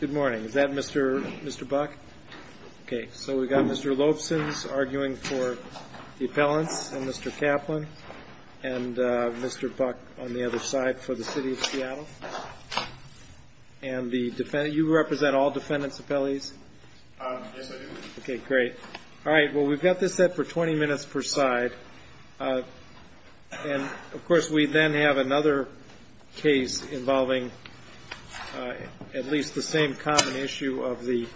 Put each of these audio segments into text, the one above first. Good morning. Is that Mr. Buck? Okay, so we've got Mr. Lobson arguing for the appellants, and Mr. Kaplan, and Mr. Buck on the other side for the City of Seattle. And you represent all defendants' appellees? Yes, I do. Okay, great. All right, well, we've got this set for 20 minutes per side. And, of course, we then have another case involving at least the same common issue of the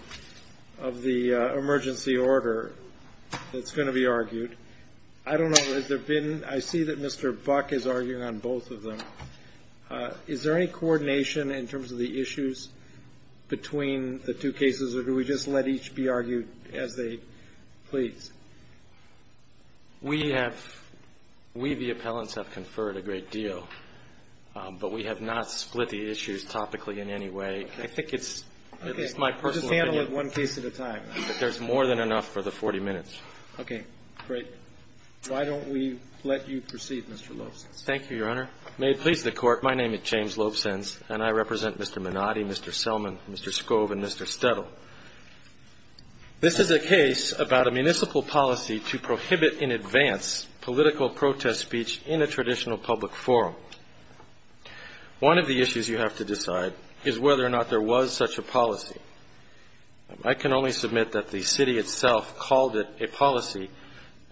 emergency order that's going to be argued. I don't know, has there been – I see that Mr. Buck is arguing on both of them. Is there any coordination in terms of the issues between the two cases, or do we just let each be argued as they please? We have – we, the appellants, have conferred a great deal, but we have not split the issues topically in any way. I think it's – it's my personal opinion. Okay, we'll just handle it one case at a time. There's more than enough for the 40 minutes. Okay, great. Why don't we let you proceed, Mr. Lobson? Thank you, Your Honor. May it please the Court, my name is James Lobson, and I represent Mr. Menotti, Mr. Selman, Mr. Scove, and Mr. Stettle. This is a case about a municipal policy to prohibit in advance political protest speech in a traditional public forum. One of the issues you have to decide is whether or not there was such a policy. I can only submit that the city itself called it a policy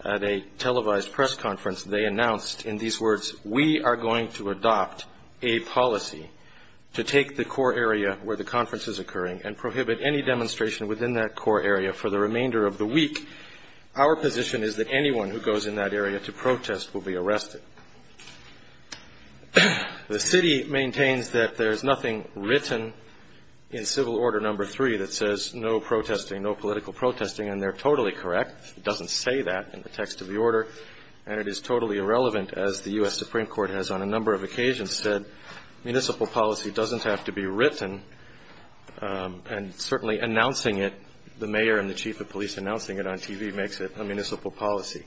at a televised press conference. They announced in these words, we are going to adopt a policy to take the core area where the conference is occurring and prohibit any demonstration within that core area for the remainder of the week. Our position is that anyone who goes in that area to protest will be arrested. The city maintains that there's nothing written in Civil Order No. 3 that says no protesting, no political protesting, and they're totally correct. It doesn't say that in the text of the order, and it is totally irrelevant, as the U.S. Supreme Court has on a number of occasions said municipal policy doesn't have to be written, and certainly announcing it, the mayor and the chief of police announcing it on TV makes it a municipal policy.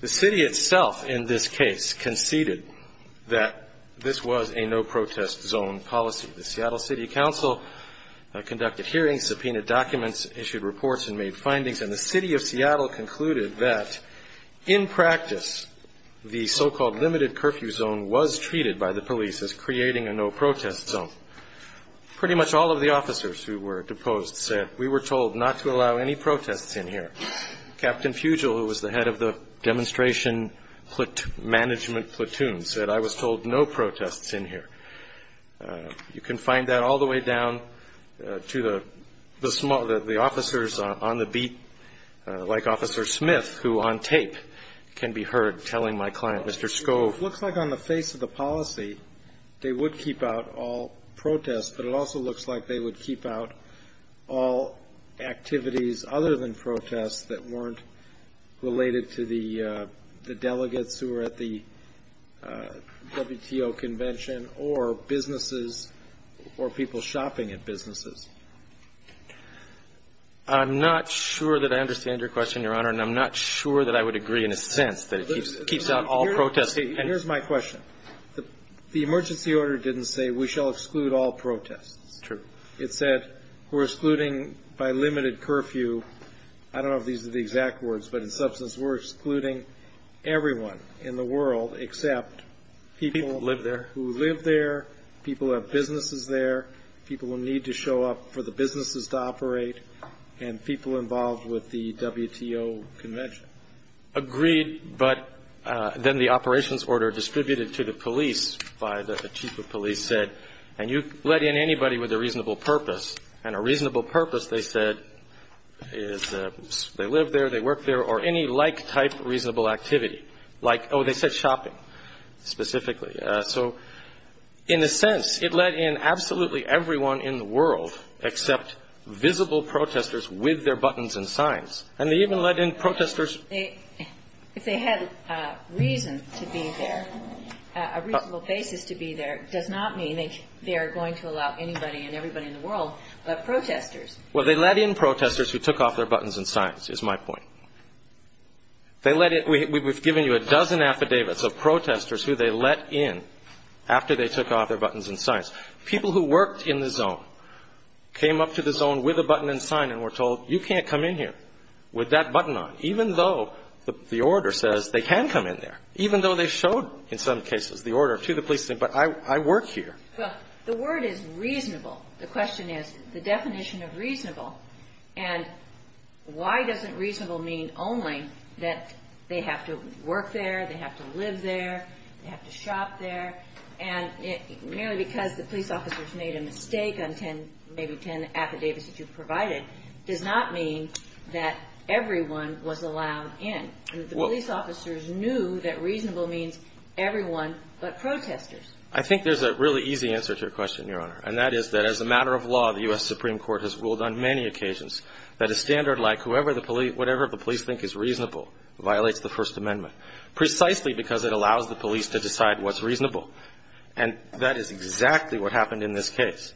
The city itself in this case conceded that this was a no-protest zone policy. The Seattle City Council conducted hearings, subpoenaed documents, issued reports, and made findings, and the city of Seattle concluded that in practice, the so-called limited curfew zone was treated by the police as creating a no-protest zone. Pretty much all of the officers who were deposed said we were told not to allow any protests in here. Captain Fugel, who was the head of the demonstration management platoon, said I was told no protests in here. You can find that all the way down to the officers on the beat, like Officer Smith, who on tape can be heard telling my client, Mr. Scove. It looks like on the face of the policy, they would keep out all protests, but it also looks like they would keep out all activities other than protests that weren't related to the delegates who were at the WTO convention or businesses or people shopping at businesses. I'm not sure that I understand your question, Your Honor, and I'm not sure that I would agree in a sense that it keeps out all protests. Here's my question. The emergency order didn't say we shall exclude all protests. It said we're excluding by limited curfew. I don't know if these are the exact words, but in substance we're excluding everyone in the world except people who live there, people who have businesses there, people who need to show up for the businesses to operate, and people involved with the WTO convention. Agreed, but then the operations order distributed to the police by the chief of police said, and you let in anybody with a reasonable purpose. And a reasonable purpose, they said, is they live there, they work there, or any like-type reasonable activity. Like, oh, they said shopping specifically. So in a sense, it let in absolutely everyone in the world except visible protesters with their buttons and signs. And they even let in protesters. If they had reason to be there, a reasonable basis to be there, does not mean they are going to allow anybody and everybody in the world but protesters. Well, they let in protesters who took off their buttons and signs, is my point. We've given you a dozen affidavits of protesters who they let in after they took off their buttons and signs. People who worked in the zone came up to the zone with a button and sign and were told, you can't come in here with that button on, even though the order says they can come in there, even though they showed, in some cases, the order to the police. But I work here. Well, the word is reasonable. The question is the definition of reasonable. And why doesn't reasonable mean only that they have to work there, they have to live there, they have to shop there? And merely because the police officers made a mistake on ten, maybe ten affidavits that you provided, does not mean that everyone was allowed in. The police officers knew that reasonable means everyone but protesters. I think there's a really easy answer to your question, Your Honor, and that is that as a matter of law, the U.S. Supreme Court has ruled on many occasions that a standard like whatever the police think is reasonable violates the First Amendment, precisely because it allows the police to decide what's reasonable. And that is exactly what happened in this case.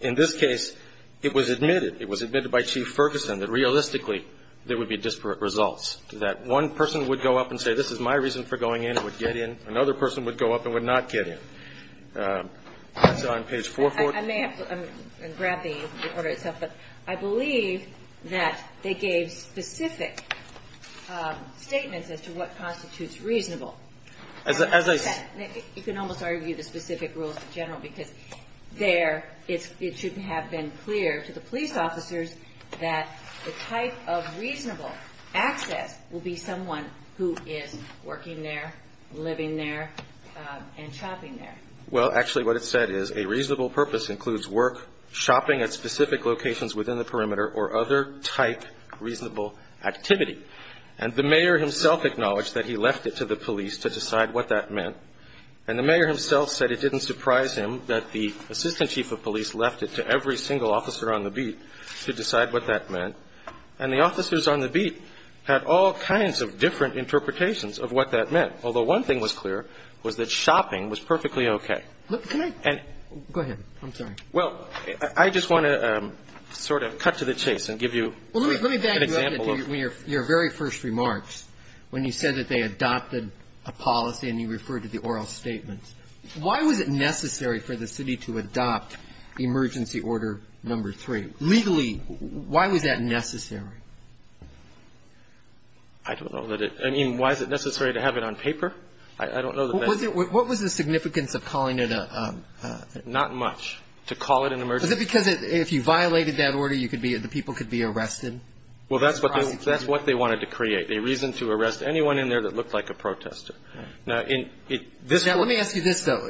In this case, it was admitted, it was admitted by Chief Ferguson, that realistically there would be disparate results, that one person would go up and say, this is my reason for going in and would get in. Another person would go up and would not get in. That's on page 440. I may have grabbed the order itself, but I believe that they gave specific statements as to what constitutes reasonable. As I said, you can almost argue the specific rules in general, because there it should have been clear to the police officers that the type of reasonable access will be someone who is working there, living there, and shopping there. Well, actually what it said is a reasonable purpose includes work, shopping at specific locations within the perimeter, or other type reasonable activity. And the mayor himself acknowledged that he left it to the police to decide what that meant, and the mayor himself said it didn't surprise him that the assistant chief of police left it to every single officer on the beat to decide what that meant. And the officers on the beat had all kinds of different interpretations of what that meant, although one thing was clear, was that shopping was perfectly okay. And go ahead. I'm sorry. Well, I just want to sort of cut to the chase and give you an example. In your very first remarks, when you said that they adopted a policy and you referred to the oral statements, why was it necessary for the city to adopt emergency order number three? Legally, why was that necessary? I don't know that it – I mean, why is it necessary to have it on paper? I don't know the best answer. What was the significance of calling it a – Not much. To call it an emergency. Was it because if you violated that order, you could be – the people could be arrested? Well, that's what they wanted to create, a reason to arrest anyone in there that looked like a protester. Now, in – Now, let me ask you this, though.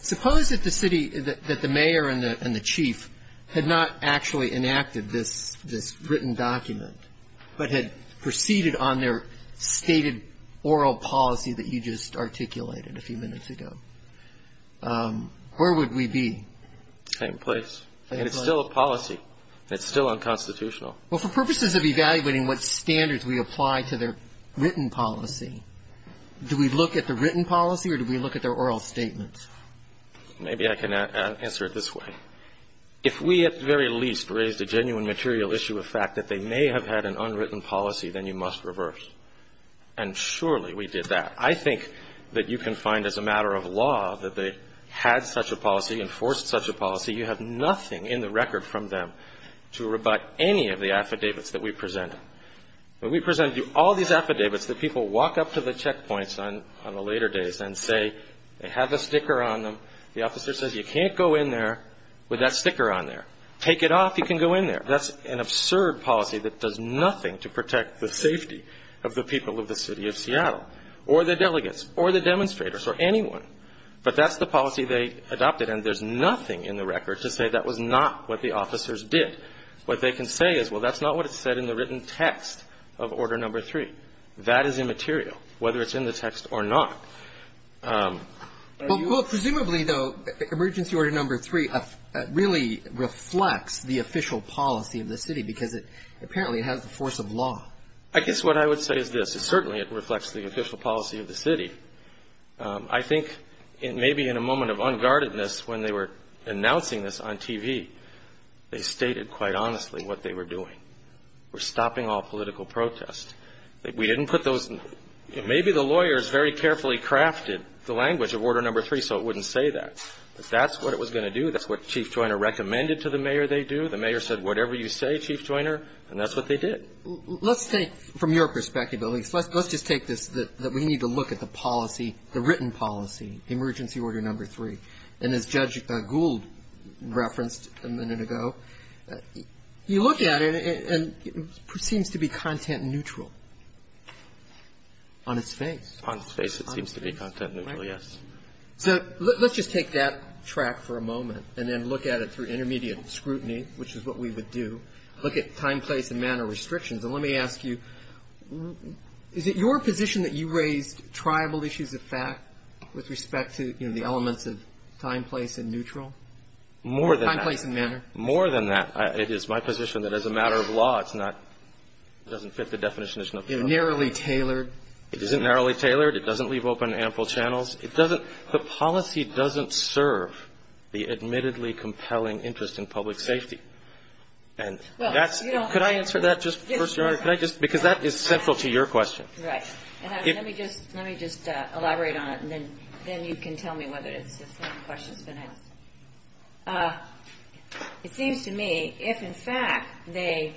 Suppose that the city – that the mayor and the chief had not actually enacted this written document, but had proceeded on their stated oral policy that you just articulated a few minutes ago. Where would we be? Same place. And it's still a policy. It's still unconstitutional. Well, for purposes of evaluating what standards we apply to their written policy, do we look at the written policy or do we look at their oral statement? Maybe I can answer it this way. If we at the very least raised a genuine material issue of fact that they may have had an unwritten policy, then you must reverse. And surely we did that. I think that you can find as a matter of law that they had such a policy, enforced such a policy. You have nothing in the record from them to rebut any of the affidavits that we presented. When we presented you all these affidavits, the people walk up to the checkpoints on the later days and say they have a sticker on them. The officer says you can't go in there with that sticker on there. Take it off, you can go in there. That's an absurd policy that does nothing to protect the safety of the people of the city of Seattle or the delegates or the demonstrators or anyone. But that's the policy they adopted. And there's nothing in the record to say that was not what the officers did. What they can say is, well, that's not what it said in the written text of Order No. 3. That is immaterial, whether it's in the text or not. Well, presumably, though, Emergency Order No. 3 really reflects the official policy of the city because it apparently has the force of law. I guess what I would say is this. Certainly it reflects the official policy of the city. I think maybe in a moment of unguardedness when they were announcing this on TV, they stated quite honestly what they were doing. They were stopping all political protest. We didn't put those ñ maybe the lawyers very carefully crafted the language of Order No. 3 so it wouldn't say that. But that's what it was going to do. That's what Chief Joyner recommended to the mayor they do. The mayor said, whatever you say, Chief Joyner, and that's what they did. Let's take, from your perspective at least, let's just take this that we need to look at the policy, the written policy, Emergency Order No. 3. And as Judge Gould referenced a minute ago, you look at it and it seems to be content neutral on its face. On its face it seems to be content neutral, yes. So let's just take that track for a moment and then look at it through intermediate scrutiny, which is what we would do. Look at time, place, and manner restrictions. And let me ask you, is it your position that you raised tribal issues of fact with respect to, you know, the elements of time, place, and neutral? More than that. Time, place, and manner. More than that. It is my position that as a matter of law it's not ñ it doesn't fit the definition of ñ It's narrowly tailored. It isn't narrowly tailored. It doesn't leave open ample channels. It doesn't ñ the policy doesn't serve the admittedly compelling interest in public safety. And that's ñ Well, you don't have to ñ Could I answer that just first, Your Honor? Yes, Your Honor. Could I just ñ because that is central to your question. Right. And let me just ñ let me just elaborate on it and then you can tell me whether it's the same question that's been asked. It seems to me if in fact they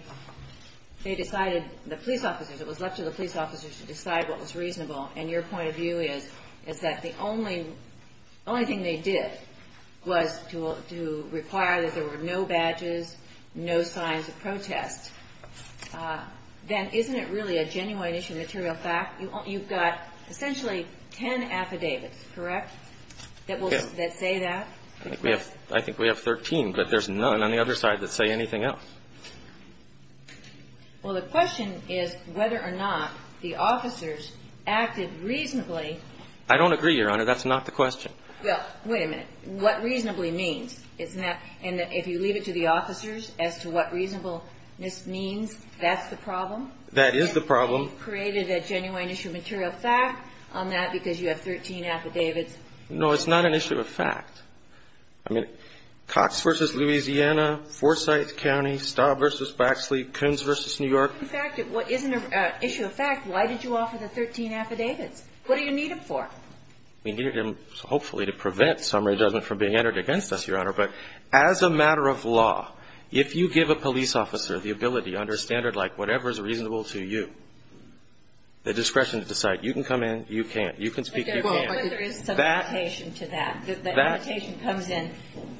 decided, the police officers, it was left to the police officers to decide what was reasonable and your point of view is that the only thing they did was to require that there were no badges, no signs of protest, then isn't it really a genuine issue of material fact? You've got essentially ten affidavits, correct, that say that? Yes. I think we have ñ I think we have 13, but there's none on the other side that say anything else. Well, the question is whether or not the officers acted reasonably. I don't agree, Your Honor. That's not the question. Well, wait a minute. What reasonably means? Isn't that ñ and if you leave it to the officers as to what reasonableness means, that's the problem? That is the problem. And you've created a genuine issue of material fact on that because you have 13 affidavits. No, it's not an issue of fact. I mean, Cox v. Louisiana, Forsyth County, Staub v. Baxley, Coons v. New York. In fact, it isn't an issue of fact. Why did you offer the 13 affidavits? What do you need them for? We need them hopefully to prevent summary judgment from being entered against us, Your Honor, but as a matter of law, if you give a police officer the ability under a standard like whatever is reasonable to you, the discretion to decide you can come in, you can't, you can speak, you can't. Well, but there is some limitation to that. The limitation comes in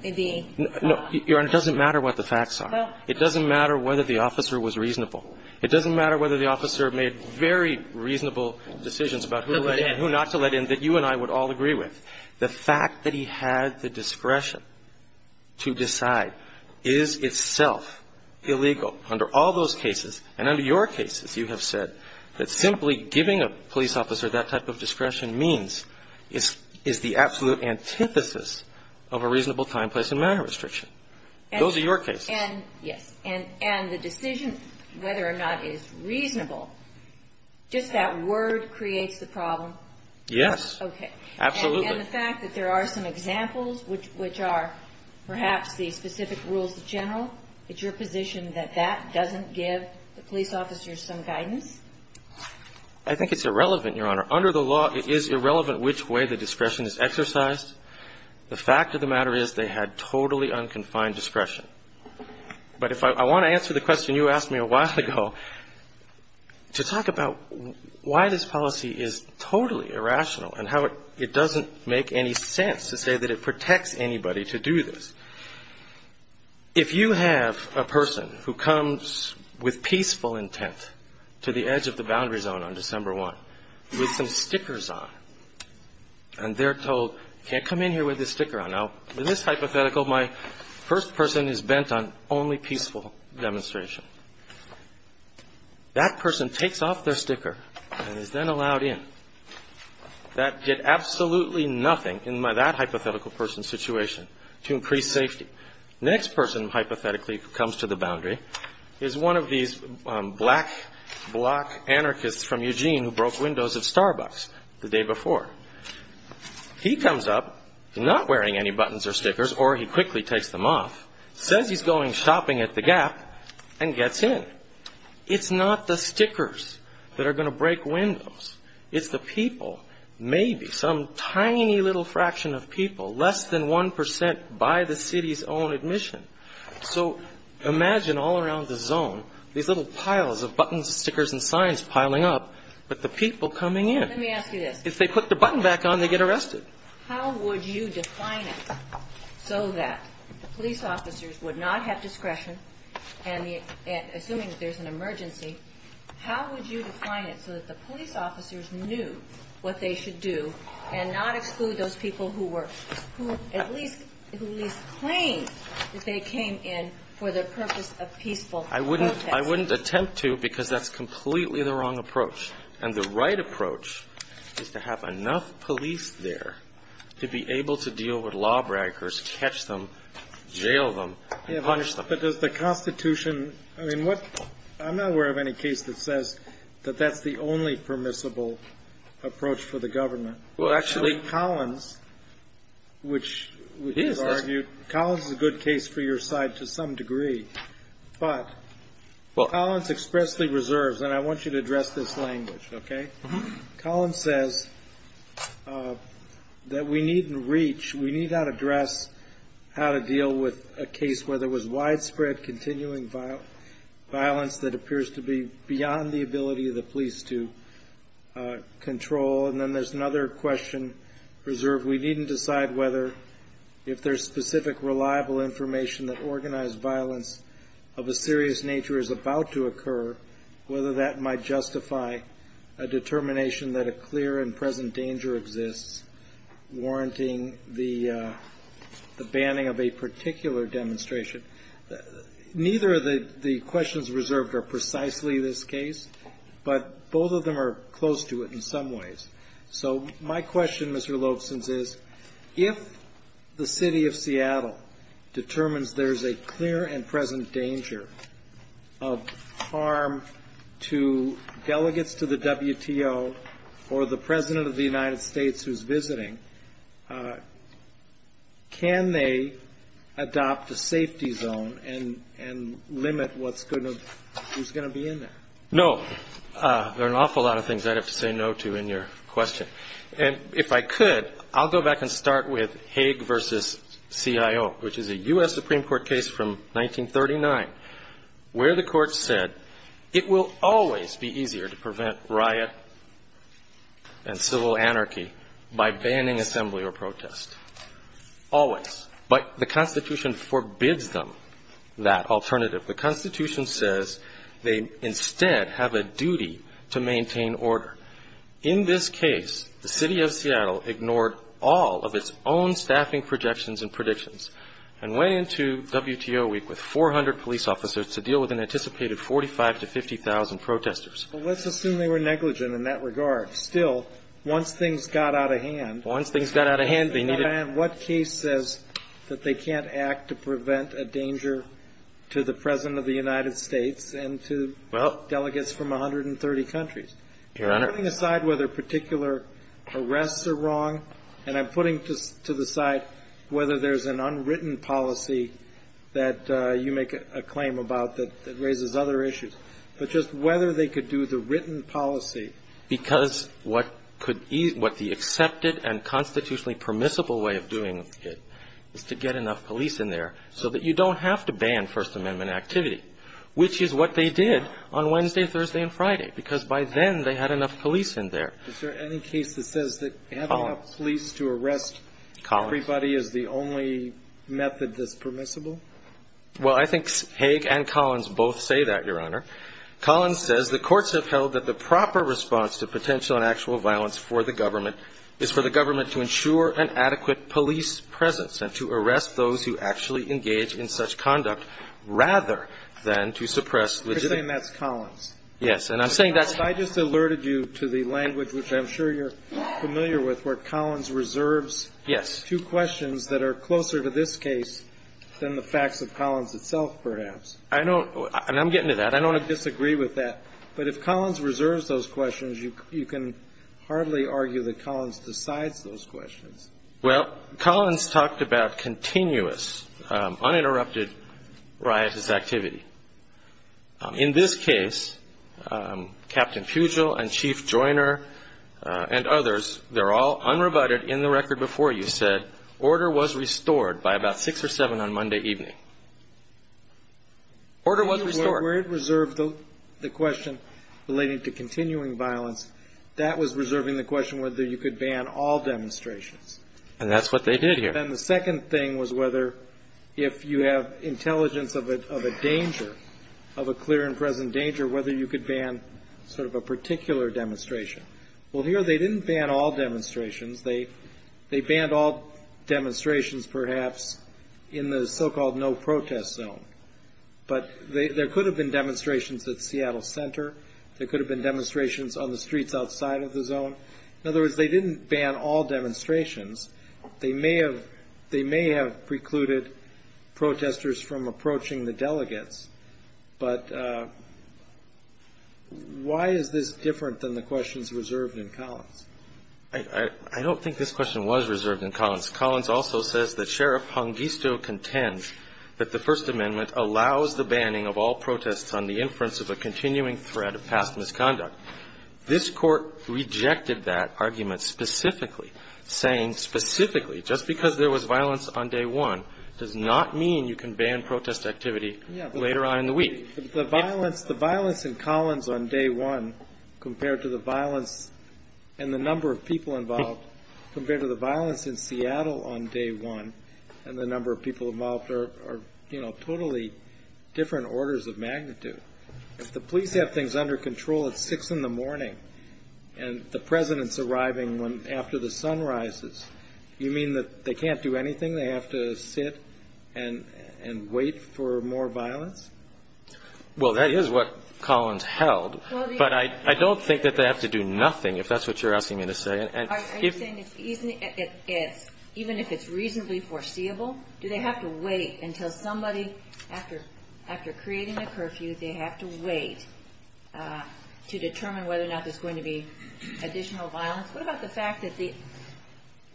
the ñ No. Your Honor, it doesn't matter what the facts are. It doesn't matter whether the officer was reasonable. It doesn't matter whether the officer made very reasonable decisions about who to let in, who not to let in that you and I would all agree with. The fact that he had the discretion to decide is itself illegal under all those cases. And under your cases you have said that simply giving a police officer that type of discretion means is the absolute antithesis of a reasonable time, place and manner restriction. Those are your cases. And, yes. And the decision whether or not it is reasonable, just that word creates the problem. Yes. Okay. Absolutely. And the fact that there are some examples which are perhaps the specific rules of general, it's your position that that doesn't give the police officers some guidance? I think it's irrelevant, Your Honor. Under the law, it is irrelevant which way the discretion is exercised. The fact of the matter is they had totally unconfined discretion. But if I want to answer the question you asked me a while ago, to talk about why this policy is totally irrational and how it doesn't make any sense to say that it protects anybody to do this. If you have a person who comes with peaceful intent to the edge of the boundary zone on December 1 with some stickers on, and they're told, you can't come in here with this sticker on. Now, in this hypothetical, my first person is bent on only peaceful demonstration. That person takes off their sticker and is then allowed in. That did absolutely nothing in that hypothetical person's situation to increase safety. The next person, hypothetically, who comes to the boundary is one of these black block anarchists from Eugene who broke windows at Starbucks the day before. He comes up, not wearing any buttons or stickers, or he quickly takes them off, says he's going shopping at the Gap, and gets in. It's not the stickers that are going to break windows. It's the people, maybe, some tiny little fraction of people, less than 1 percent by the city's own admission. So imagine all around the zone these little piles of buttons, stickers, and signs piling up, but the people coming in. Kagan. Let me ask you this. If they put the button back on, they get arrested. How would you define it so that the police officers would not have discretion, and assuming there's an emergency, how would you define it so that the police officers knew what they should do and not exclude those people who were, who at least claimed that they came in for the purpose of peaceful protest? I wouldn't attempt to because that's completely the wrong approach. And the right approach is to have enough police there to be able to deal with law breakers, catch them, jail them, and punish them. But does the Constitution, I mean, what, I'm not aware of any case that says that that's the only permissible approach for the government. Well, actually, Collins, which we've argued, Collins is a good case for your side to some degree. But Collins expressly reserves, and I want you to address this language, okay? Collins says that we need to reach, we need how to address how to deal with a case where there was widespread continuing violence that appears to be beyond the ability of the police to control. And then there's another question reserved, we needn't decide whether, if there's specific reliable information that organized violence of a serious nature is about to occur, whether that might justify a determination that a clear and present danger exists, warranting the banning of a particular demonstration. Neither of the questions reserved are precisely this case, but both of them are close to it in some ways. So my question, Mr. Lobson's, is if the City of Seattle determines there's a clear and present danger of harm to delegates to the WTO or the President of the United States who's visiting, can they adopt a safety zone and limit who's going to be in there? No. There are an awful lot of things I'd have to say no to in your question. And if I could, I'll go back and start with Haig v. CIO, which is a U.S. Supreme Court case from 1939, where the court said it will always be easier to prevent riot and civil anarchy by banning assembly or protest. Always. But the Constitution forbids them that alternative. The Constitution says they instead have a duty to maintain order. In this case, the City of Seattle ignored all of its own staffing projections and predictions and went into WTO week with 400 police officers to deal with an anticipated 45,000 to 50,000 protesters. Well, let's assume they were negligent in that regard. Still, once things got out of hand. Once things got out of hand, they needed. What case says that they can't act to prevent a danger to the President of the United States and to delegates from 130 countries? Your Honor. I'm putting aside whether particular arrests are wrong, and I'm putting to the side whether there's an unwritten policy that you make a claim about that raises other issues. But just whether they could do the written policy. Because what the accepted and constitutionally permissible way of doing it is to get enough police in there so that you don't have to ban First Amendment activity, which is what they did on Wednesday, Thursday, and Friday. Because by then they had enough police in there. Is there any case that says that having enough police to arrest everybody is the only method that's permissible? Well, I think Haig and Collins both say that, Your Honor. Collins says the courts have held that the proper response to potential and actual violence for the government is for the government to ensure an adequate police presence and to arrest those who actually engage in such conduct rather than to suppress legitimate. You're saying that's Collins? Yes. And I'm saying that's I just alerted you to the language, which I'm sure you're familiar with, where Collins reserves Yes. two questions that are closer to this case than the facts of Collins itself, perhaps. I don't. And I'm getting to that. I don't disagree with that. But if Collins reserves those questions, you can hardly argue that Collins decides those questions. Well, Collins talked about continuous, uninterrupted riotous activity. In this case, Captain Pugel and Chief Joyner and others, they're all unrebutted. In the record before you said order was restored by about six or seven on Monday evening. Order was restored. Where it reserved the question relating to continuing violence, that was reserving the question whether you could ban all demonstrations. And that's what they did here. And then the second thing was whether if you have intelligence of a danger, of a clear and present danger, whether you could ban sort of a particular demonstration. Well, here they didn't ban all demonstrations. They banned all demonstrations perhaps in the so-called no protest zone. But there could have been demonstrations at Seattle Center. There could have been demonstrations on the streets outside of the zone. In other words, they didn't ban all demonstrations. They may have precluded protesters from approaching the delegates. But why is this different than the questions reserved in Collins? I don't think this question was reserved in Collins. Collins also says that Sheriff Hongisto contends that the First Amendment allows the banning of all protests on the inference of a continuing threat of past misconduct. This Court rejected that argument specifically, saying specifically just because there was violence on day one does not mean you can ban protest activity later on in the week. The violence in Collins on day one compared to the violence and the number of people involved compared to the violence in Seattle on day one and the number of people involved are, you know, totally different orders of magnitude. If the police have things under control at 6 in the morning and the President's arriving after the sun rises, you mean that they can't do anything? They have to sit and wait for more violence? Well, that is what Collins held. But I don't think that they have to do nothing, if that's what you're asking me to say. Are you saying even if it's reasonably foreseeable, do they have to wait until somebody, after creating a curfew, they have to wait to determine whether or not there's going to be additional violence? What about the fact that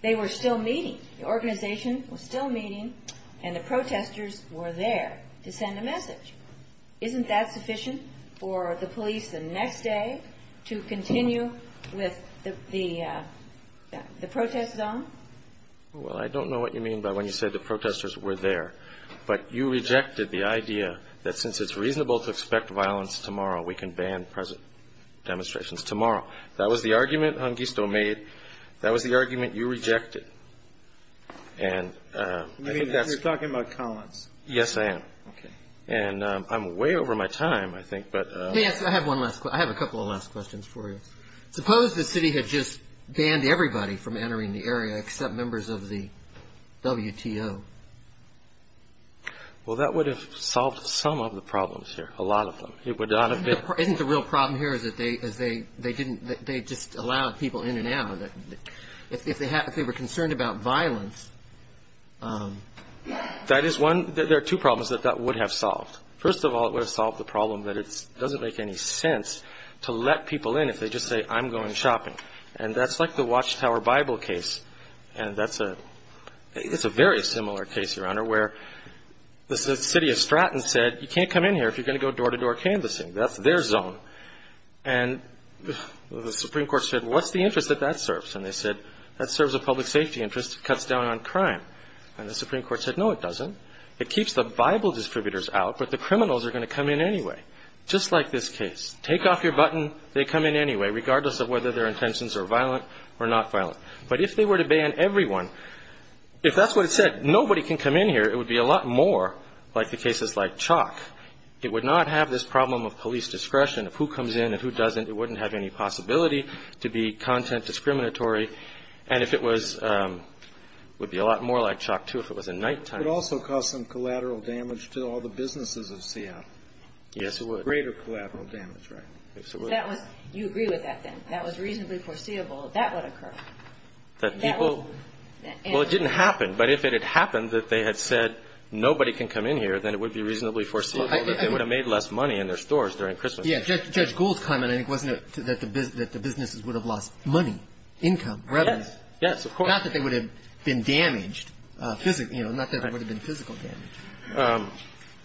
they were still meeting, the organization was still meeting and the protesters were there to send a message? Isn't that sufficient for the police the next day to continue with the protest zone? Well, I don't know what you mean by when you say the protesters were there. But you rejected the idea that since it's reasonable to expect violence tomorrow, we can ban demonstrations tomorrow. That was the argument Hongisto made. That was the argument you rejected. You're talking about Collins. Yes, I am. Okay. And I'm way over my time, I think. I have a couple of last questions for you. Suppose the city had just banned everybody from entering the area except members of the WTO. Well, that would have solved some of the problems here, a lot of them. Isn't the real problem here is that they just allowed people in and out? If they were concerned about violence. That is one. There are two problems that that would have solved. First of all, it would have solved the problem that it doesn't make any sense to let people in if they just say, I'm going shopping. And that's like the Watchtower Bible case. And that's a very similar case, Your Honor, where the city of Stratton said, you can't come in here if you're going to go door-to-door canvassing. That's their zone. And the Supreme Court said, what's the interest that that serves? And they said, that serves a public safety interest. It cuts down on crime. And the Supreme Court said, no, it doesn't. It keeps the Bible distributors out, but the criminals are going to come in anyway. Just like this case. Take off your button. They come in anyway, regardless of whether their intentions are violent or not violent. But if they were to ban everyone, if that's what it said, nobody can come in here. It would be a lot more like the cases like Chalk. It would not have this problem of police discretion of who comes in and who doesn't. It wouldn't have any possibility to be content discriminatory. And it would be a lot more like Chalk, too, if it was a nighttime. It would also cause some collateral damage to all the businesses of Seattle. Yes, it would. Greater collateral damage, right. Absolutely. You agree with that, then? That was reasonably foreseeable. That would occur. That people? Well, it didn't happen. But if it had happened that they had said nobody can come in here, then it would be reasonably foreseeable that they would have made less money in their stores during Christmas. Yes. Judge Gould's comment, I think, wasn't it, that the businesses would have lost money, income, revenue? Yes. Yes, of course. Not that they would have been damaged, you know, not that there would have been physical damage.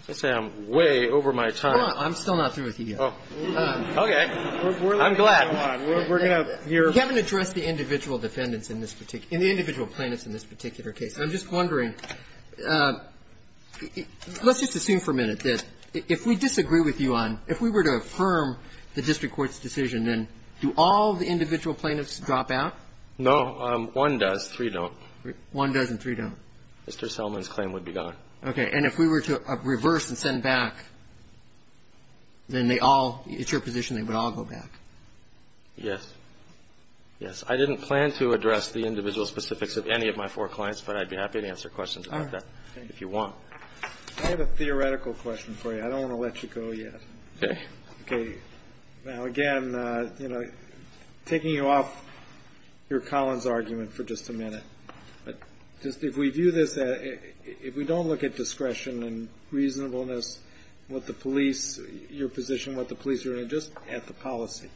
Let's say I'm way over my time. I'm still not through with you yet. Oh. Okay. I'm glad. We're going to hear. You haven't addressed the individual defendants in this particular – in the individual plaintiffs in this particular case. I'm just wondering, let's just assume for a minute that if we disagree with you on – if we were to affirm the district court's decision, then do all the individual plaintiffs drop out? No. One does. Three don't. One does and three don't. Mr. Selman's claim would be gone. Okay. And if we were to reverse and send back, then they all – it's your position they would all go back. Yes. Yes. I didn't plan to address the individual specifics of any of my four clients, but I'd be happy to answer questions about that if you want. I have a theoretical question for you. I don't want to let you go yet. Okay. Now, again, you know, taking you off your Collins argument for just a minute, but just if we view this – if we don't look at discretion and reasonableness and what the police – your position, what the police are doing, just at the policy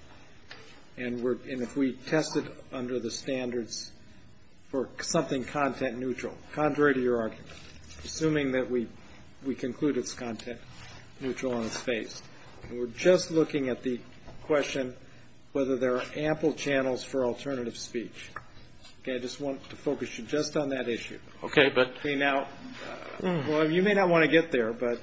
and if we test it under the standards for something content neutral, contrary to your argument, assuming that we conclude it's content neutral on its face, and we're just looking at the question whether there are ample channels for alternative speech. Okay. I just want to focus you just on that issue. Okay. But – Okay. Now, you may not want to get there, but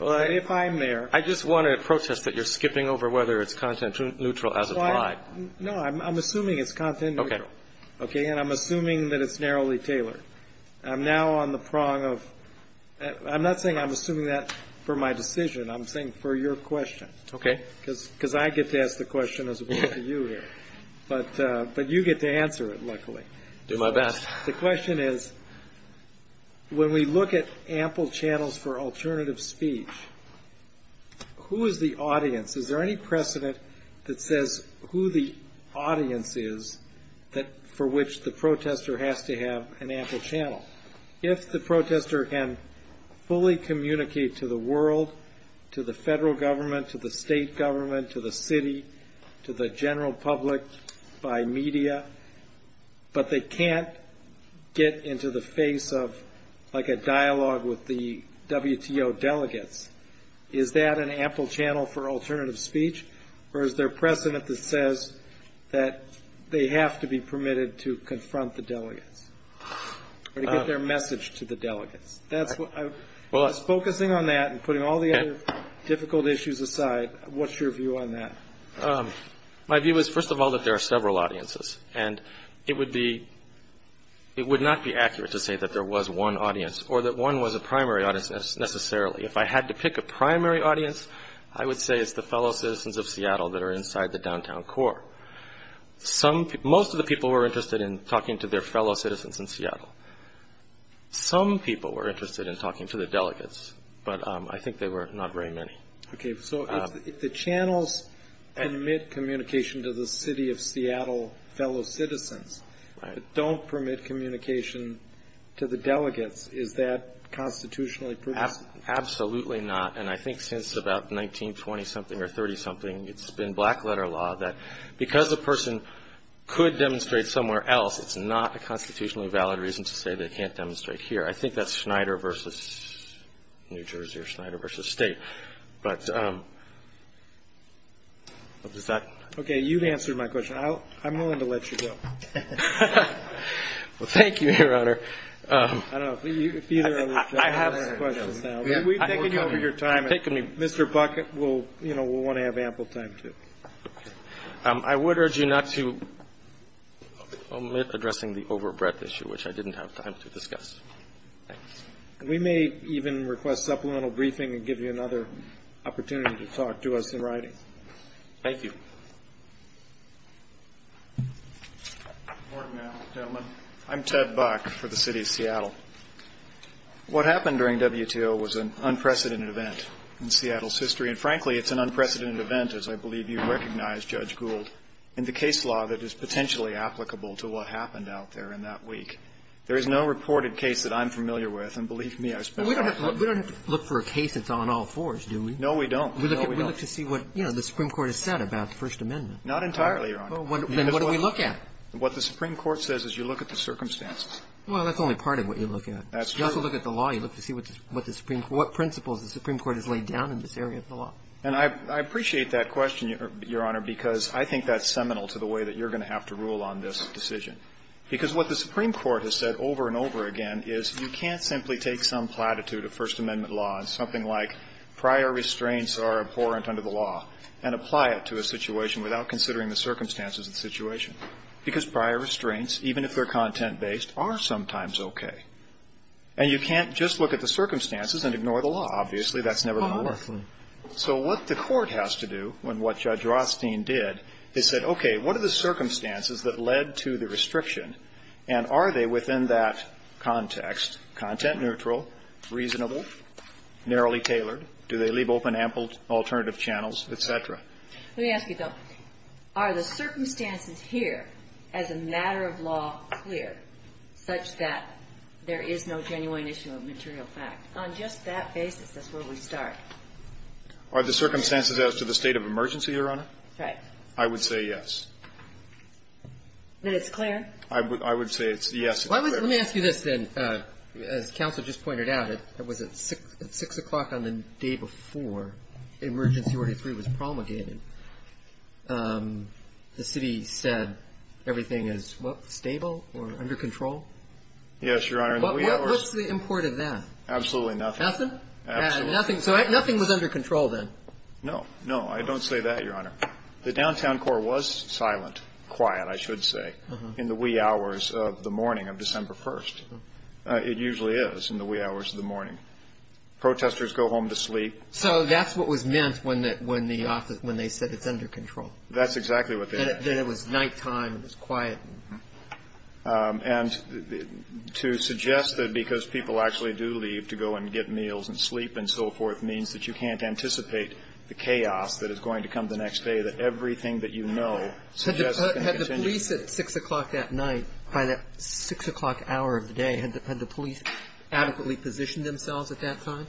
if I'm there – I just want to protest that you're skipping over whether it's content neutral as applied. No. I'm assuming it's content neutral. Okay. Okay. And I'm assuming that it's narrowly tailored. I'm now on the prong of – I'm not saying I'm assuming that for my decision. I'm saying for your question. Okay. Because I get to ask the question as opposed to you here. But you get to answer it, luckily. I'll do my best. The question is, when we look at ample channels for alternative speech, who is the audience? Is there any precedent that says who the audience is for which the protester has to have an ample channel? If the protester can fully communicate to the world, to the federal government, to the state government, to the city, to the general public, by media, but they can't get into the face of, like, a dialogue with the WTO delegates, is that an ample channel for alternative speech? Or is there precedent that says that they have to be permitted to confront the delegates or to get their message to the delegates? Just focusing on that and putting all the other difficult issues aside, what's your view on that? My view is, first of all, that there are several audiences. And it would not be accurate to say that there was one audience or that one was a primary audience necessarily. If I had to pick a primary audience, I would say it's the fellow citizens of Seattle that are inside the downtown core. Some people were interested in talking to the delegates, but I think there were not very many. Okay. So if the channels permit communication to the city of Seattle fellow citizens but don't permit communication to the delegates, is that constitutionally provisional? Absolutely not. And I think since about 1920-something or 30-something, it's been black-letter law that because a person could demonstrate somewhere else, it's not a constitutionally valid reason to say they can't demonstrate here. I think that's Schneider v. New Jersey or Schneider v. State. But does that? Okay. You've answered my question. I'm willing to let you go. Well, thank you, Your Honor. I don't know. I have questions now. We've taken you over your time. Mr. Buck, we'll want to have ample time, too. I would urge you not to omit addressing the overbreadth issue, which I didn't have time to discuss. We may even request supplemental briefing and give you another opportunity to talk to us in writing. Thank you. Good morning, gentlemen. I'm Ted Buck for the city of Seattle. What happened during WTO was an unprecedented event in Seattle's history, and frankly, it's an unprecedented event, as I believe you recognize, Judge Gould, in the case law that is potentially applicable to what happened out there in that week. There is no reported case that I'm familiar with, and believe me, I spent a lot of time We don't have to look for a case that's on all fours, do we? No, we don't. No, we don't. We look to see what, you know, the Supreme Court has said about the First Amendment. Not entirely, Your Honor. Then what do we look at? What the Supreme Court says is you look at the circumstances. Well, that's only part of what you look at. That's true. You also look at the law. You look to see what the Supreme Court, what principles the Supreme Court has laid down in this area of the law. And I appreciate that question, Your Honor, because I think that's seminal to the way that you're going to have to rule on this decision, because what the Supreme Court has said over and over again is you can't simply take some platitude of First Amendment law and something like prior restraints are abhorrent under the law and apply it to a situation without considering the circumstances of the situation, because prior restraints, even if they're content-based, are sometimes okay. And you can't just look at the circumstances and ignore the law. Obviously, that's never going to work. So what the Court has to do, and what Judge Rothstein did, is said, okay, what are the circumstances that led to the restriction, and are they within that context content-neutral, reasonable, narrowly tailored? Do they leave open ample alternative channels, et cetera? Let me ask you, though. Are the circumstances here as a matter of law clear such that there is no genuine issue of material fact? On just that basis, that's where we start. Are the circumstances as to the state of emergency, Your Honor? Right. I would say yes. Then it's clear? I would say it's yes. Let me ask you this, then. As counsel just pointed out, it was at 6 o'clock on the day before Emergency Order 3 was promulgated. The city said everything is stable or under control? Yes, Your Honor. What's the import of that? Absolutely nothing. Nothing? Absolutely nothing. So nothing was under control then? No. No. I don't say that, Your Honor. The downtown core was silent, quiet, I should say, in the wee hours of the morning of December 1st. It usually is in the wee hours of the morning. Protesters go home to sleep. So that's what was meant when the office, when they said it's under control. That's exactly what they meant. That it was nighttime, it was quiet. And to suggest that because people actually do leave to go and get meals and sleep and so forth means that you can't anticipate the chaos that is going to come the next day, that everything that you know suggests is going to continue. Had the police at 6 o'clock that night, by that 6 o'clock hour of the day, had the police adequately positioned themselves at that time?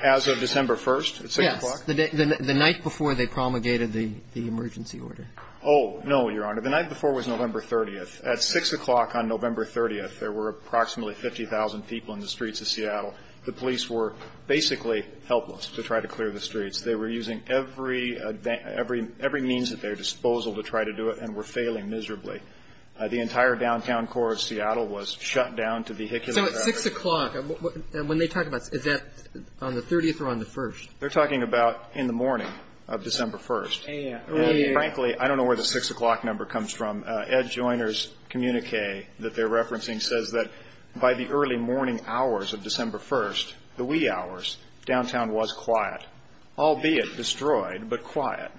As of December 1st at 6 o'clock? Yes. The night before they promulgated the emergency order. Oh, no, Your Honor. The night before was November 30th. At 6 o'clock on November 30th, there were approximately 50,000 people in the streets of Seattle. The police were basically helpless to try to clear the streets. They were using every means at their disposal to try to do it and were failing miserably. The entire downtown core of Seattle was shut down to vehicular traffic. So at 6 o'clock, when they talk about, is that on the 30th or on the 1st? They're talking about in the morning of December 1st. And frankly, I don't know where the 6 o'clock number comes from. Ed Joyner's communique that they're referencing says that by the early morning hours of December 1st, the wee hours, downtown was quiet, albeit destroyed, but quiet.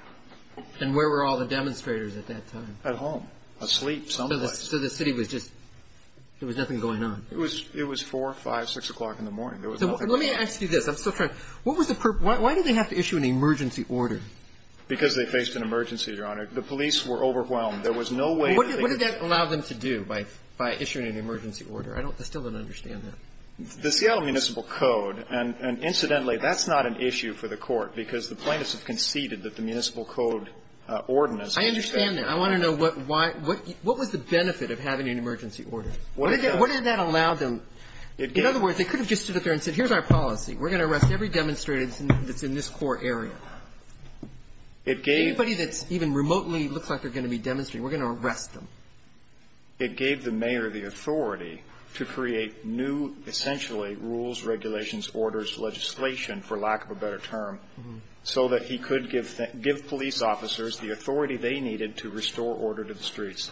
And where were all the demonstrators at that time? At home. Asleep, somewhat. So the city was just, there was nothing going on. It was 4, 5, 6 o'clock in the morning. Let me ask you this. I'm still trying. What was the purpose? Why did they have to issue an emergency order? Because they faced an emergency, Your Honor. The police were overwhelmed. There was no way to clear the streets. What did that allow them to do by issuing an emergency order? I still don't understand that. The Seattle Municipal Code, and incidentally, that's not an issue for the Court because the plaintiffs have conceded that the Municipal Code Ordinance I understand that. I want to know what was the benefit of having an emergency order? What did that allow them? In other words, they could have just stood up there and said, here's our policy. We're going to arrest every demonstrator that's in this core area. Anybody that's even remotely looks like they're going to be demonstrating, we're going to arrest them. It gave the mayor the authority to create new, essentially, rules, regulations, orders, legislation, for lack of a better term, so that he could give police officers the authority they needed to restore order to the streets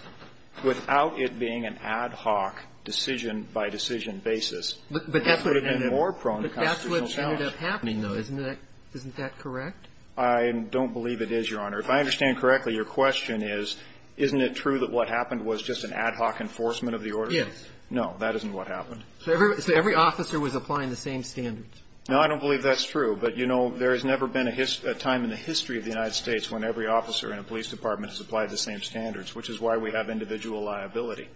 without it being an ad hoc decision-by-decision basis. And that would have been more prone to constitutional challenge. But that's what ended up happening, though, isn't it? Isn't that correct? I don't believe it is, Your Honor. If I understand correctly, your question is, isn't it true that what happened was just an ad hoc enforcement of the order? Yes. No, that isn't what happened. So every officer was applying the same standards. No, I don't believe that's true. But, you know, there has never been a time in the history of the United States when every officer in a police department has applied the same standards, which is why we have individual liability.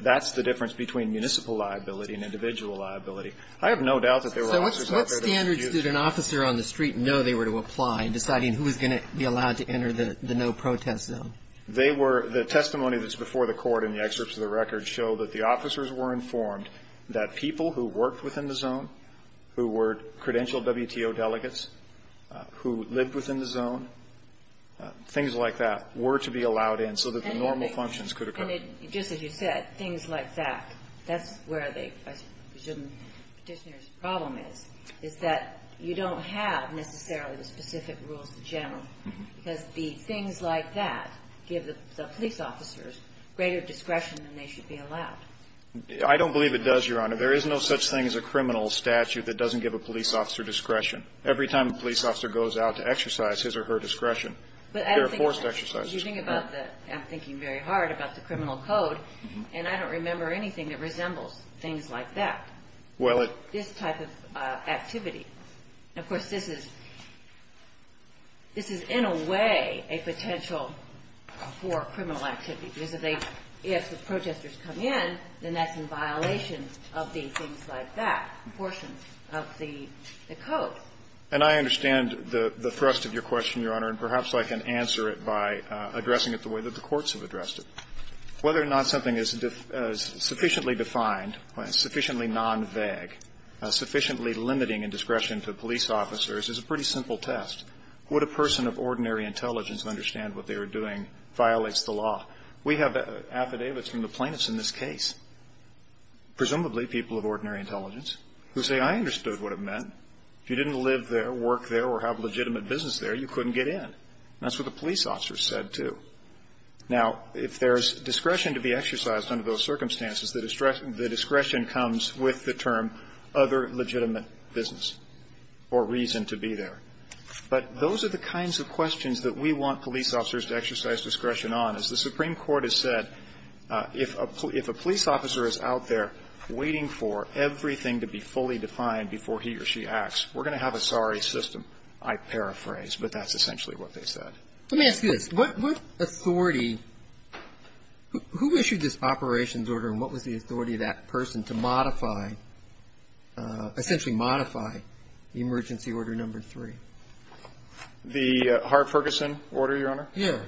That's the difference between municipal liability and individual liability. I have no doubt that there were officers out there that used that. So what standards did an officer on the street know they were to apply in deciding who was going to be allowed to enter the no-protest zone? They were the testimony that's before the court in the excerpts of the record show that the officers were informed that people who worked within the zone, who were credentialed WTO delegates, who lived within the zone, things like that, were to be allowed in so that their normal functions could occur. And just as you said, things like that, that's where the, I presume, Petitioner's problem is, is that you don't have necessarily the specific rules in general, because the things like that give the police officers greater discretion than they should be allowed. I don't believe it does, Your Honor. There is no such thing as a criminal statute that doesn't give a police officer discretion. Every time a police officer goes out to exercise his or her discretion, there are forced exercises. But I don't think about that. I'm thinking very hard about the criminal code, and I don't remember anything that resembles things like that, this type of activity. Of course, this is, this is in a way a potential for criminal activity, because they, if the protesters come in, then that's in violation of the things like that, portions of the code. And I understand the thrust of your question, Your Honor, and perhaps I can answer it by addressing it the way that the courts have addressed it. Whether or not something is sufficiently defined, sufficiently non-vague, sufficiently limiting in discretion to police officers is a pretty simple test. Would a person of ordinary intelligence understand what they were doing violates the law? We have affidavits from the plaintiffs in this case, presumably people of ordinary intelligence, who say, I understood what it meant. If you didn't live there, work there, or have legitimate business there, you couldn't get in. That's what the police officers said, too. Now, if there's discretion to be exercised under those circumstances, the discretion comes with the term other legitimate business or reason to be there. But those are the kinds of questions that we want police officers to exercise discretion on. As the Supreme Court has said, if a police officer is out there waiting for everything to be fully defined before he or she acts, we're going to have a sorry system, I paraphrase, but that's essentially what they said. Let me ask you this. What authority – who issued this operations order and what was the authority of that person to modify, essentially modify, the emergency order number three? The Hart-Ferguson order, Your Honor? Yes.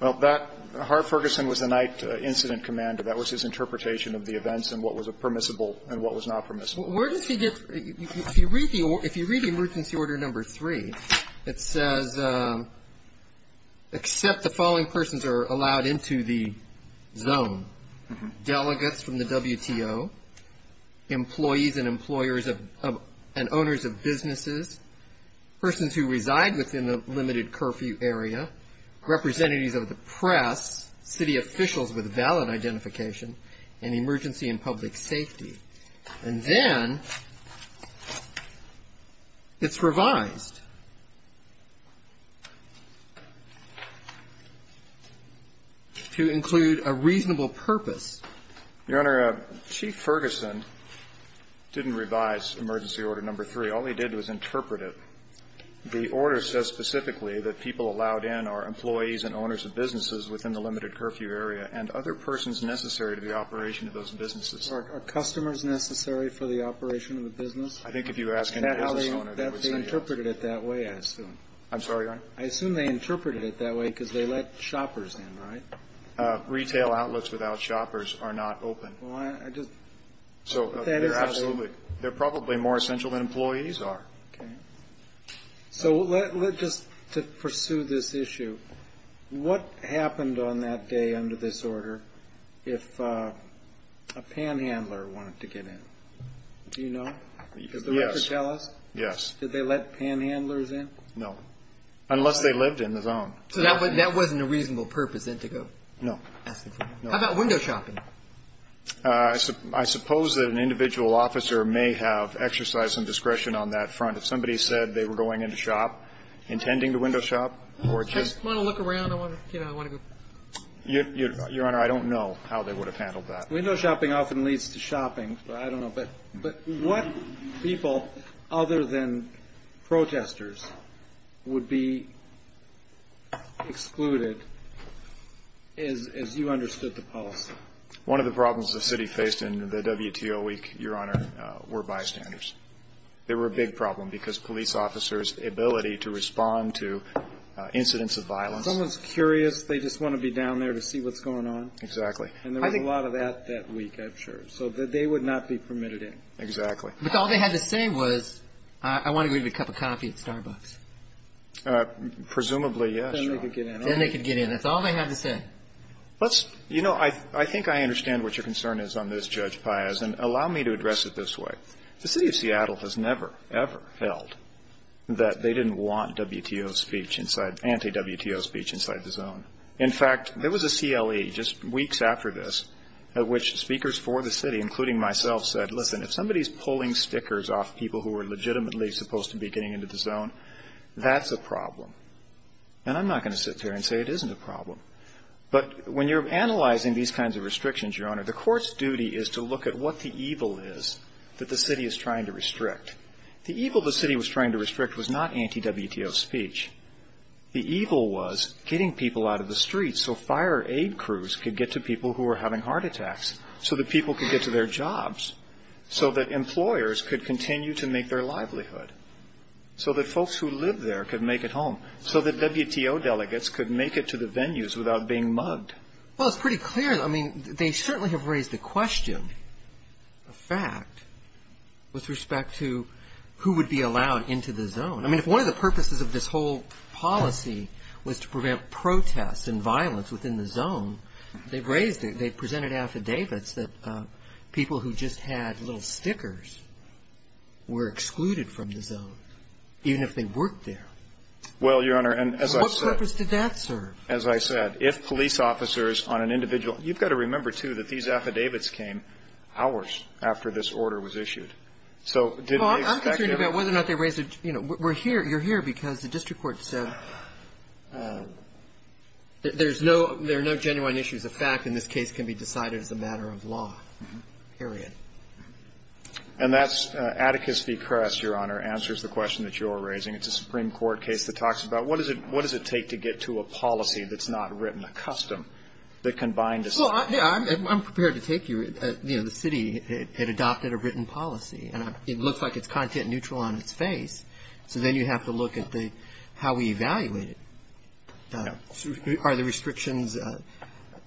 Well, that – Hart-Ferguson was the night incident commander. That was his interpretation of the events and what was permissible and what was not permissible. Where does he get – if you read the emergency order number three, it says, except the following persons are allowed into the zone. Delegates from the WTO, employees and employers of – and owners of businesses, persons who reside within the limited curfew area, representatives of the press, city officials with valid identification, and emergency and public safety. And then it's revised to include a reasonable purpose. Your Honor, Chief Ferguson didn't revise emergency order number three. All he did was interpret it. The order says specifically that people allowed in are employees and owners of businesses within the limited curfew area and other persons necessary to the operation of those businesses. Are customers necessary for the operation of a business? I think if you ask any business owner, they would say yes. They interpreted it that way, I assume. I'm sorry, Your Honor? I assume they interpreted it that way because they let shoppers in, right? Retail outlets without shoppers are not open. Well, I just – So they're absolutely – they're probably more essential than employees are. Okay. So let – just to pursue this issue, what happened on that day under this order if a panhandler wanted to get in? Do you know? Yes. Does the record tell us? Yes. Did they let panhandlers in? No, unless they lived in the zone. So that wasn't a reasonable purpose, then, to go? No. How about window shopping? I suppose that an individual officer may have exercise and discretion on that front. If somebody said they were going in to shop, intending to window shop, or just – I just want to look around. I want to, you know, I want to go – Your Honor, I don't know how they would have handled that. Window shopping often leads to shopping, but I don't know. But what people other than protesters would be excluded, as you understood the policy? One of the problems the city faced in the WTO week, Your Honor, were bystanders. They were a big problem because police officers' ability to respond to incidents of violence. Someone's curious. They just want to be down there to see what's going on. Exactly. And there was a lot of that that week, I'm sure. So they would not be permitted in. Exactly. But all they had to say was, I want to go get a cup of coffee at Starbucks. Presumably, yes, Your Honor. Then they could get in. Then they could get in. That's all they had to say. Let's – you know, I think I understand what your concern is on this, Judge Payaz, and allow me to address it this way. The City of Seattle has never, ever held that they didn't want WTO speech inside – anti-WTO speech inside the zone. In fact, there was a CLE just weeks after this at which speakers for the city, including myself, said, listen, if somebody's pulling stickers off people who are legitimately supposed to be getting into the zone, that's a problem. And I'm not going to sit there and say it isn't a problem. But when you're analyzing these kinds of restrictions, Your Honor, the court's duty is to look at what the evil is that the city is trying to restrict. The evil the city was trying to restrict was not anti-WTO speech. The evil was getting people out of the streets so fire aid crews could get to people who were having heart attacks, so that people could get to their jobs, so that employers could continue to make their livelihood, so that folks who live there could make it home, so that WTO delegates could make it to the venues without being mugged. Well, it's pretty clear. I mean, they certainly have raised the question, a fact, with respect to who would be allowed into the zone. I mean, if one of the purposes of this whole policy was to prevent protests and violence within the zone, they've raised it. They've presented affidavits that people who just had little stickers were excluded from the zone, even if they worked there. Well, Your Honor, and as I said – What purpose did that serve? As I said, if police officers on an individual – you've got to remember, too, that these affidavits came hours after this order was issued. So did they expect – Well, I'm concerned about whether or not they raised – you know, you're here because the district court said there's no – there are no genuine issues. A fact in this case can be decided as a matter of law, period. And that's Atticus v. Kress, Your Honor, answers the question that you're raising. It's a Supreme Court case that talks about what does it – Well, I'm prepared to take you – you know, the city had adopted a written policy, and it looks like it's content-neutral on its face. So then you have to look at the – how we evaluate it. Are the restrictions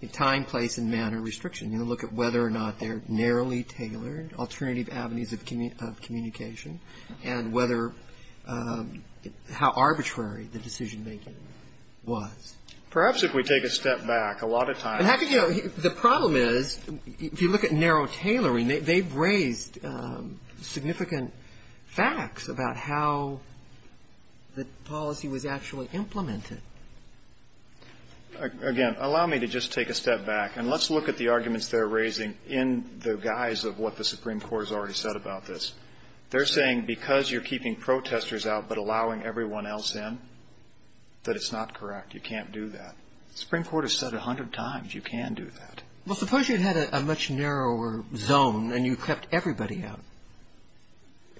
in time, place, and manner restrictions? You know, look at whether or not they're narrowly tailored, alternative avenues of communication, and whether – how arbitrary the decision-making was. Perhaps if we take a step back, a lot of times – The problem is, if you look at narrow tailoring, they've raised significant facts about how the policy was actually implemented. Again, allow me to just take a step back, and let's look at the arguments they're raising in the guise of what the Supreme Court has already said about this. They're saying because you're keeping protesters out but allowing everyone else in, that it's not correct. You can't do that. The Supreme Court has said it a hundred times. You can do that. Well, suppose you had a much narrower zone, and you kept everybody out.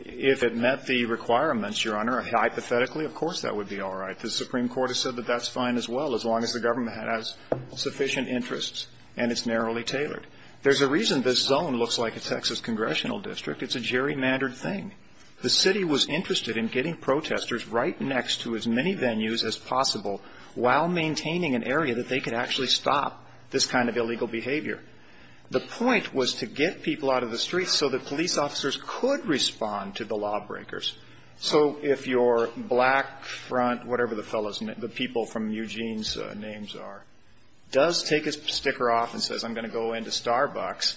If it met the requirements, Your Honor, hypothetically, of course that would be all right. The Supreme Court has said that that's fine as well, as long as the government has sufficient interests and it's narrowly tailored. There's a reason this zone looks like a Texas congressional district. It's a gerrymandered thing. The city was interested in getting protesters right next to as many venues as possible while maintaining an area that they could actually stop this kind of illegal behavior. The point was to get people out of the streets so that police officers could respond to the lawbreakers. So if your black front, whatever the fellows, the people from Eugene's names are, does take his sticker off and says, I'm going to go into Starbucks,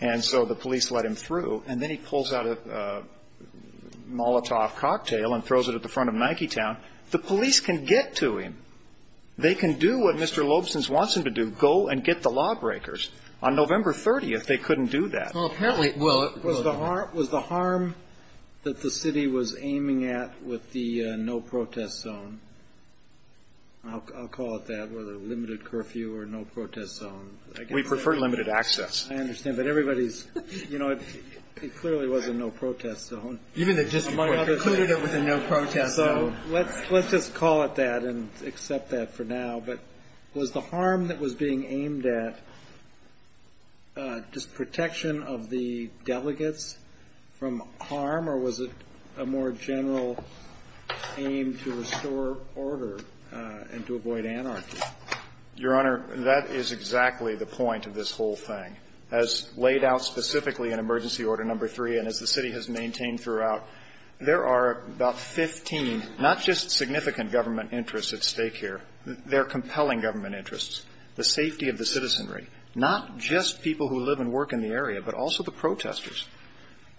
and so the police let him through, and then he pulls out a Molotov cocktail and throws it at the front of Nike Town, the police can get to him. They can do what Mr. Lobson wants them to do, go and get the lawbreakers. On November 30th, they couldn't do that. Well, apparently, well, it was the harm that the city was aiming at with the no-protest zone. I'll call it that, whether limited curfew or no-protest zone. We prefer limited access. I understand. But everybody's, you know, it clearly was a no-protest zone. Even the district court concluded it was a no-protest zone. So let's just call it that and accept that for now. But was the harm that was being aimed at just protection of the delegates from harm, or was it a more general aim to restore order and to avoid anarchy? Your Honor, that is exactly the point of this whole thing. As laid out specifically in Emergency Order No. 3 and as the city has maintained throughout, there are about 15, not just significant government interests at stake here, they're compelling government interests. The safety of the citizenry, not just people who live and work in the area, but also the protesters.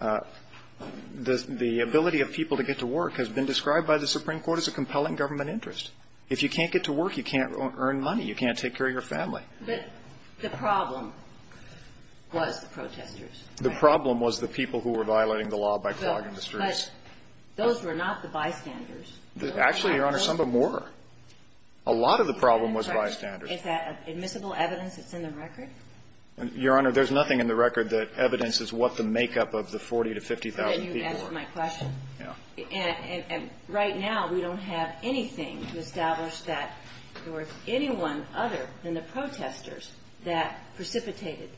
The ability of people to get to work has been described by the Supreme Court as a compelling government interest. If you can't get to work, you can't earn money. You can't take care of your family. But the problem was the protesters. The problem was the people who were violating the law by clogging the streets. But those were not the bystanders. Actually, Your Honor, some of them were. A lot of the problem was bystanders. Is that admissible evidence that's in the record? Your Honor, there's nothing in the record that evidences what the makeup of the 40,000 to 50,000 people were. Can you answer my question? Yeah. And right now we don't have anything to establish that there was anyone other than the protesters that precipitated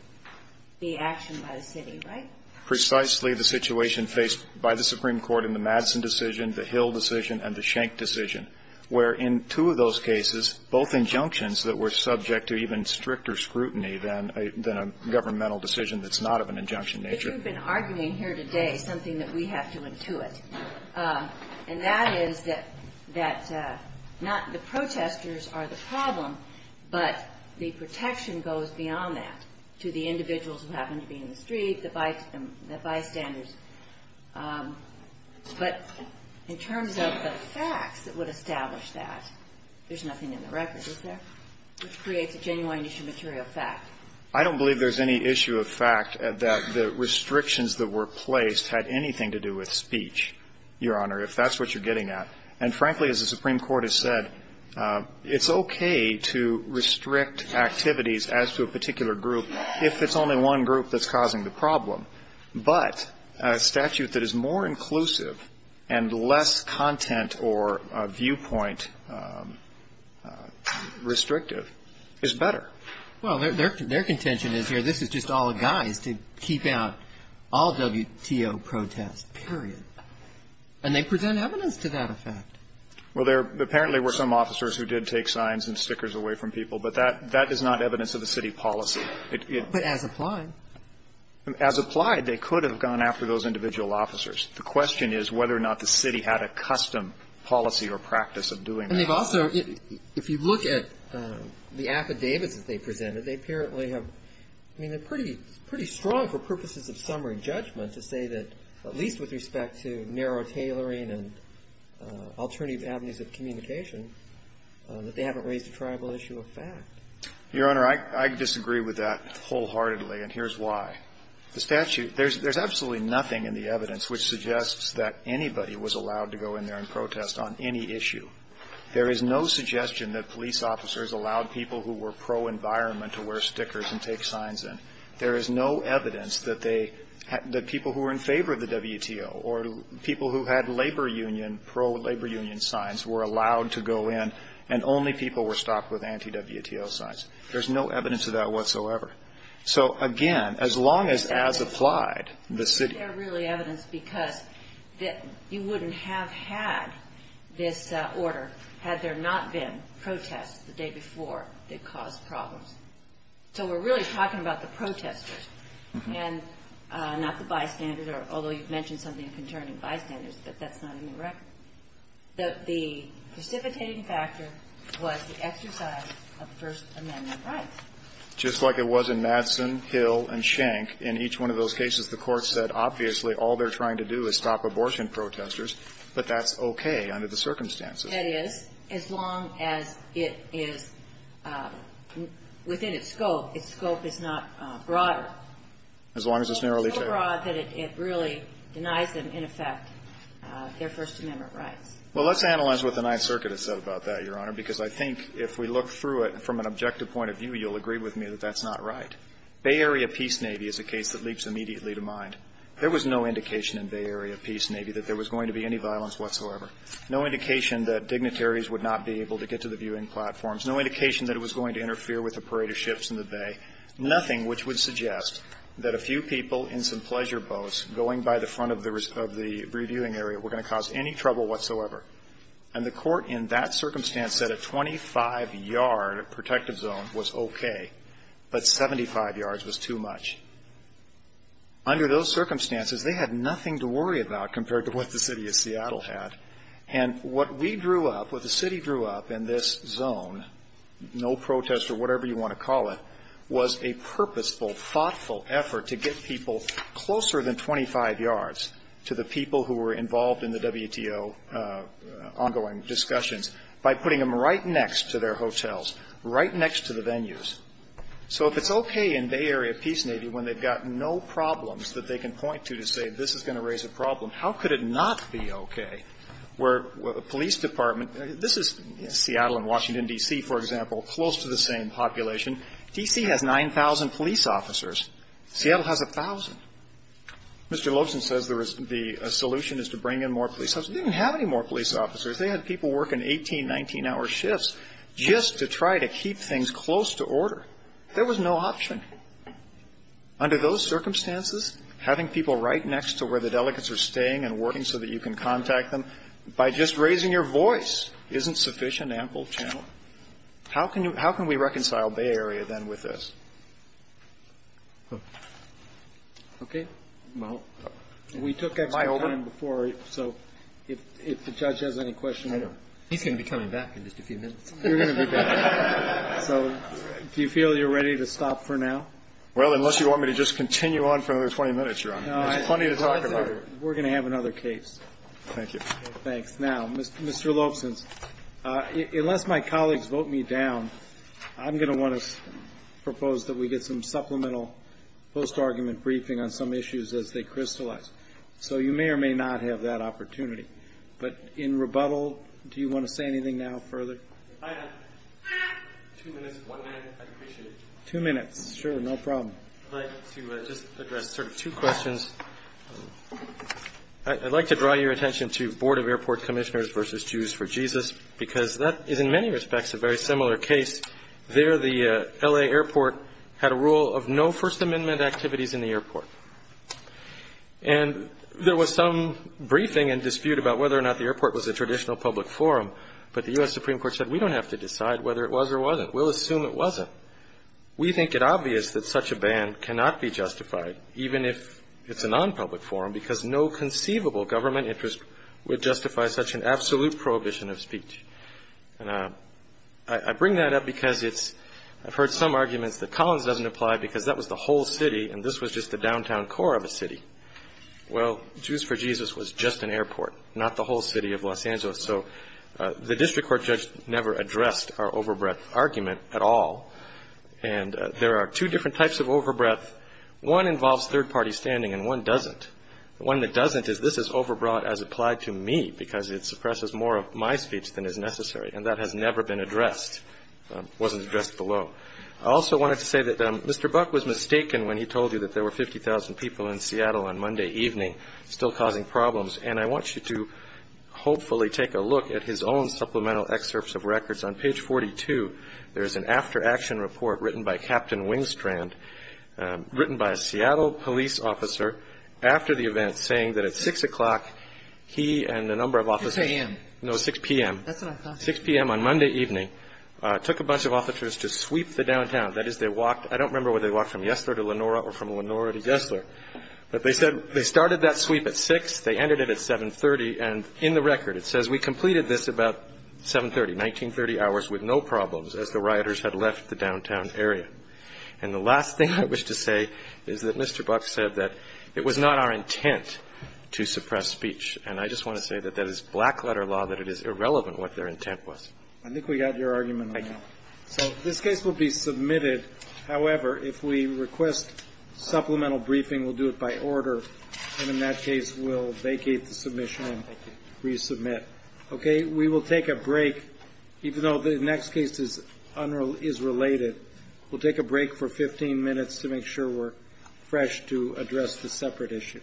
the action by the city, right? Precisely the situation faced by the Supreme Court in the Madison decision, the Hill decision, and the Schenck decision, where in two of those cases, both injunctions that were subject to even stricter scrutiny than a governmental decision that's not of an injunction nature. You've been arguing here today something that we have to intuit. And that is that not the protesters are the problem, but the protection goes beyond that to the individuals who happen to be in the street, the bystanders. But in terms of the facts that would establish that, there's nothing in the record, is there? Which creates a genuine issue of material fact. I don't believe there's any issue of fact that the restrictions that were placed had anything to do with speech, Your Honor, if that's what you're getting at. And frankly, as the Supreme Court has said, it's okay to restrict activities as to a particular group if it's only one group that's causing the problem. But a statute that is more inclusive and less content or viewpoint restrictive is better. Well, their contention is here this is just all a guise to keep out all WTO protests, period. And they present evidence to that effect. Well, there apparently were some officers who did take signs and stickers away from people, but that is not evidence of the city policy. But as applied. As applied, they could have gone after those individual officers. The question is whether or not the city had a custom policy or practice of doing And they've also, if you look at the affidavits that they presented, they apparently have, I mean, they're pretty strong for purposes of summary judgment to say that at least with respect to narrow tailoring and alternative avenues of communication, that they haven't raised a tribal issue of fact. Your Honor, I disagree with that wholeheartedly, and here's why. The statute, there's absolutely nothing in the evidence which suggests that anybody was allowed to go in there and protest on any issue. There is no suggestion that police officers allowed people who were pro-environment to wear stickers and take signs in. There is no evidence that people who were in favor of the WTO or people who had labor union, pro-labor union signs were allowed to go in and only people were stopped with anti-WTO signs. There's no evidence of that whatsoever. So, again, as long as as applied, the city. They're really evidence because that you wouldn't have had this order had there not been protests the day before that caused problems. So we're really talking about the protesters and not the bystanders, although you've mentioned something concerning bystanders, but that's not in the record. The precipitating factor was the exercise of First Amendment rights. Just like it was in Madsen, Hill, and Schenck. In each one of those cases, the Court said, obviously, all they're trying to do is stop abortion protesters, but that's okay under the circumstances. That is, as long as it is within its scope. Its scope is not broader. As long as it's narrowly tabled. So broad that it really denies them, in effect, their First Amendment rights. Well, let's analyze what the Ninth Circuit has said about that, Your Honor, because I think if we look through it from an objective point of view, you'll agree with me that that's not right. Bay Area Peace Navy is a case that leaps immediately to mind. There was no indication in Bay Area Peace Navy that there was going to be any violence whatsoever, no indication that dignitaries would not be able to get to the viewing platforms, no indication that it was going to interfere with the parade of ships in the Bay, nothing which would suggest that a few people in some pleasure boats going by the front of the reviewing area were going to cause any trouble whatsoever. And the court in that circumstance said a 25-yard protective zone was okay, but 75 yards was too much. Under those circumstances, they had nothing to worry about compared to what the city of Seattle had. And what we drew up, what the city drew up in this zone, no protest or whatever you want to call it, was a purposeful, thoughtful effort to get people closer than 25 yards to the people who were involved in the WTO ongoing discussions by putting them right next to their hotels, right next to the venues. So if it's okay in Bay Area Peace Navy when they've got no problems that they can point to to say this is going to raise a problem, how could it not be okay where a police department – this is Seattle and Washington, D.C., for example, close to the same population. D.C. has 9,000 police officers. Seattle has 1,000. Mr. Lobson says the solution is to bring in more police officers. They didn't have any more police officers. They had people working 18-, 19-hour shifts just to try to keep things close to order. There was no option. Under those circumstances, having people right next to where the delegates are staying and working so that you can contact them by just raising your voice isn't sufficient ample challenge. How can we reconcile Bay Area then with this? Okay. Well, we took extra time before, so if the judge has any questions. He's going to be coming back in just a few minutes. You're going to be back. So do you feel you're ready to stop for now? Well, unless you want me to just continue on for another 20 minutes, Your Honor. There's plenty to talk about. We're going to have another case. Thank you. Thanks. Now, Mr. Lobson, unless my colleagues vote me down, I'm going to want to propose that we get some supplemental post-argument briefing on some issues as they crystallize. So you may or may not have that opportunity. But in rebuttal, do you want to say anything now further? If I have two minutes, one minute, I'd appreciate it. Two minutes. Sure. No problem. I'd like to just address sort of two questions. I'd like to draw your attention to Board of Airport Commissioners versus Jews for Jesus because that is, in many respects, a very similar case. There, the L.A. airport had a rule of no First Amendment activities in the airport. And there was some briefing and dispute about whether or not the airport was a traditional public forum, but the U.S. Supreme Court said we don't have to decide whether it was or wasn't. We'll assume it wasn't. We think it obvious that such a ban cannot be justified, even if it's a nonpublic forum, because no conceivable government interest would justify such an absolute prohibition of speech. And I bring that up because I've heard some arguments that Collins doesn't apply because that was the whole city and this was just the downtown core of a city. Well, Jews for Jesus was just an airport, not the whole city of Los Angeles. So the district court judge never addressed our overbreadth argument at all. And there are two different types of overbreadth. One involves third-party standing and one doesn't. The one that doesn't is this is overbroad as applied to me because it suppresses more of my speech than is necessary, and that has never been addressed, wasn't addressed below. I also wanted to say that Mr. Buck was mistaken when he told you that there were 50,000 people in Seattle on Monday evening, still causing problems, and I want you to hopefully take a look at his own supplemental excerpts of records. On page 42, there is an after-action report written by Captain Wingstrand, written by a Seattle police officer after the event saying that at 6 o'clock he and a number of officers. 6 a.m. No, 6 p.m. That's what I thought. 6 p.m. on Monday evening took a bunch of officers to sweep the downtown. That is, they walked. I don't remember whether they walked from Yesler to Lenora or from Lenora to Yesler, but they said they started that sweep at 6, they ended it at 7.30, and in the record it says we completed this about 7.30, 19.30 hours with no problems as the rioters had left the downtown area. And the last thing I wish to say is that Mr. Buck said that it was not our intent to suppress speech. And I just want to say that that is black-letter law, that it is irrelevant what their intent was. I think we got your argument. I know. So this case will be submitted. However, if we request supplemental briefing, we'll do it by order, and in that case, we'll vacate the submission and resubmit. Okay? We will take a break, even though the next case is related. We'll take a break for 15 minutes to make sure we're fresh to address the separate issues. Thank you.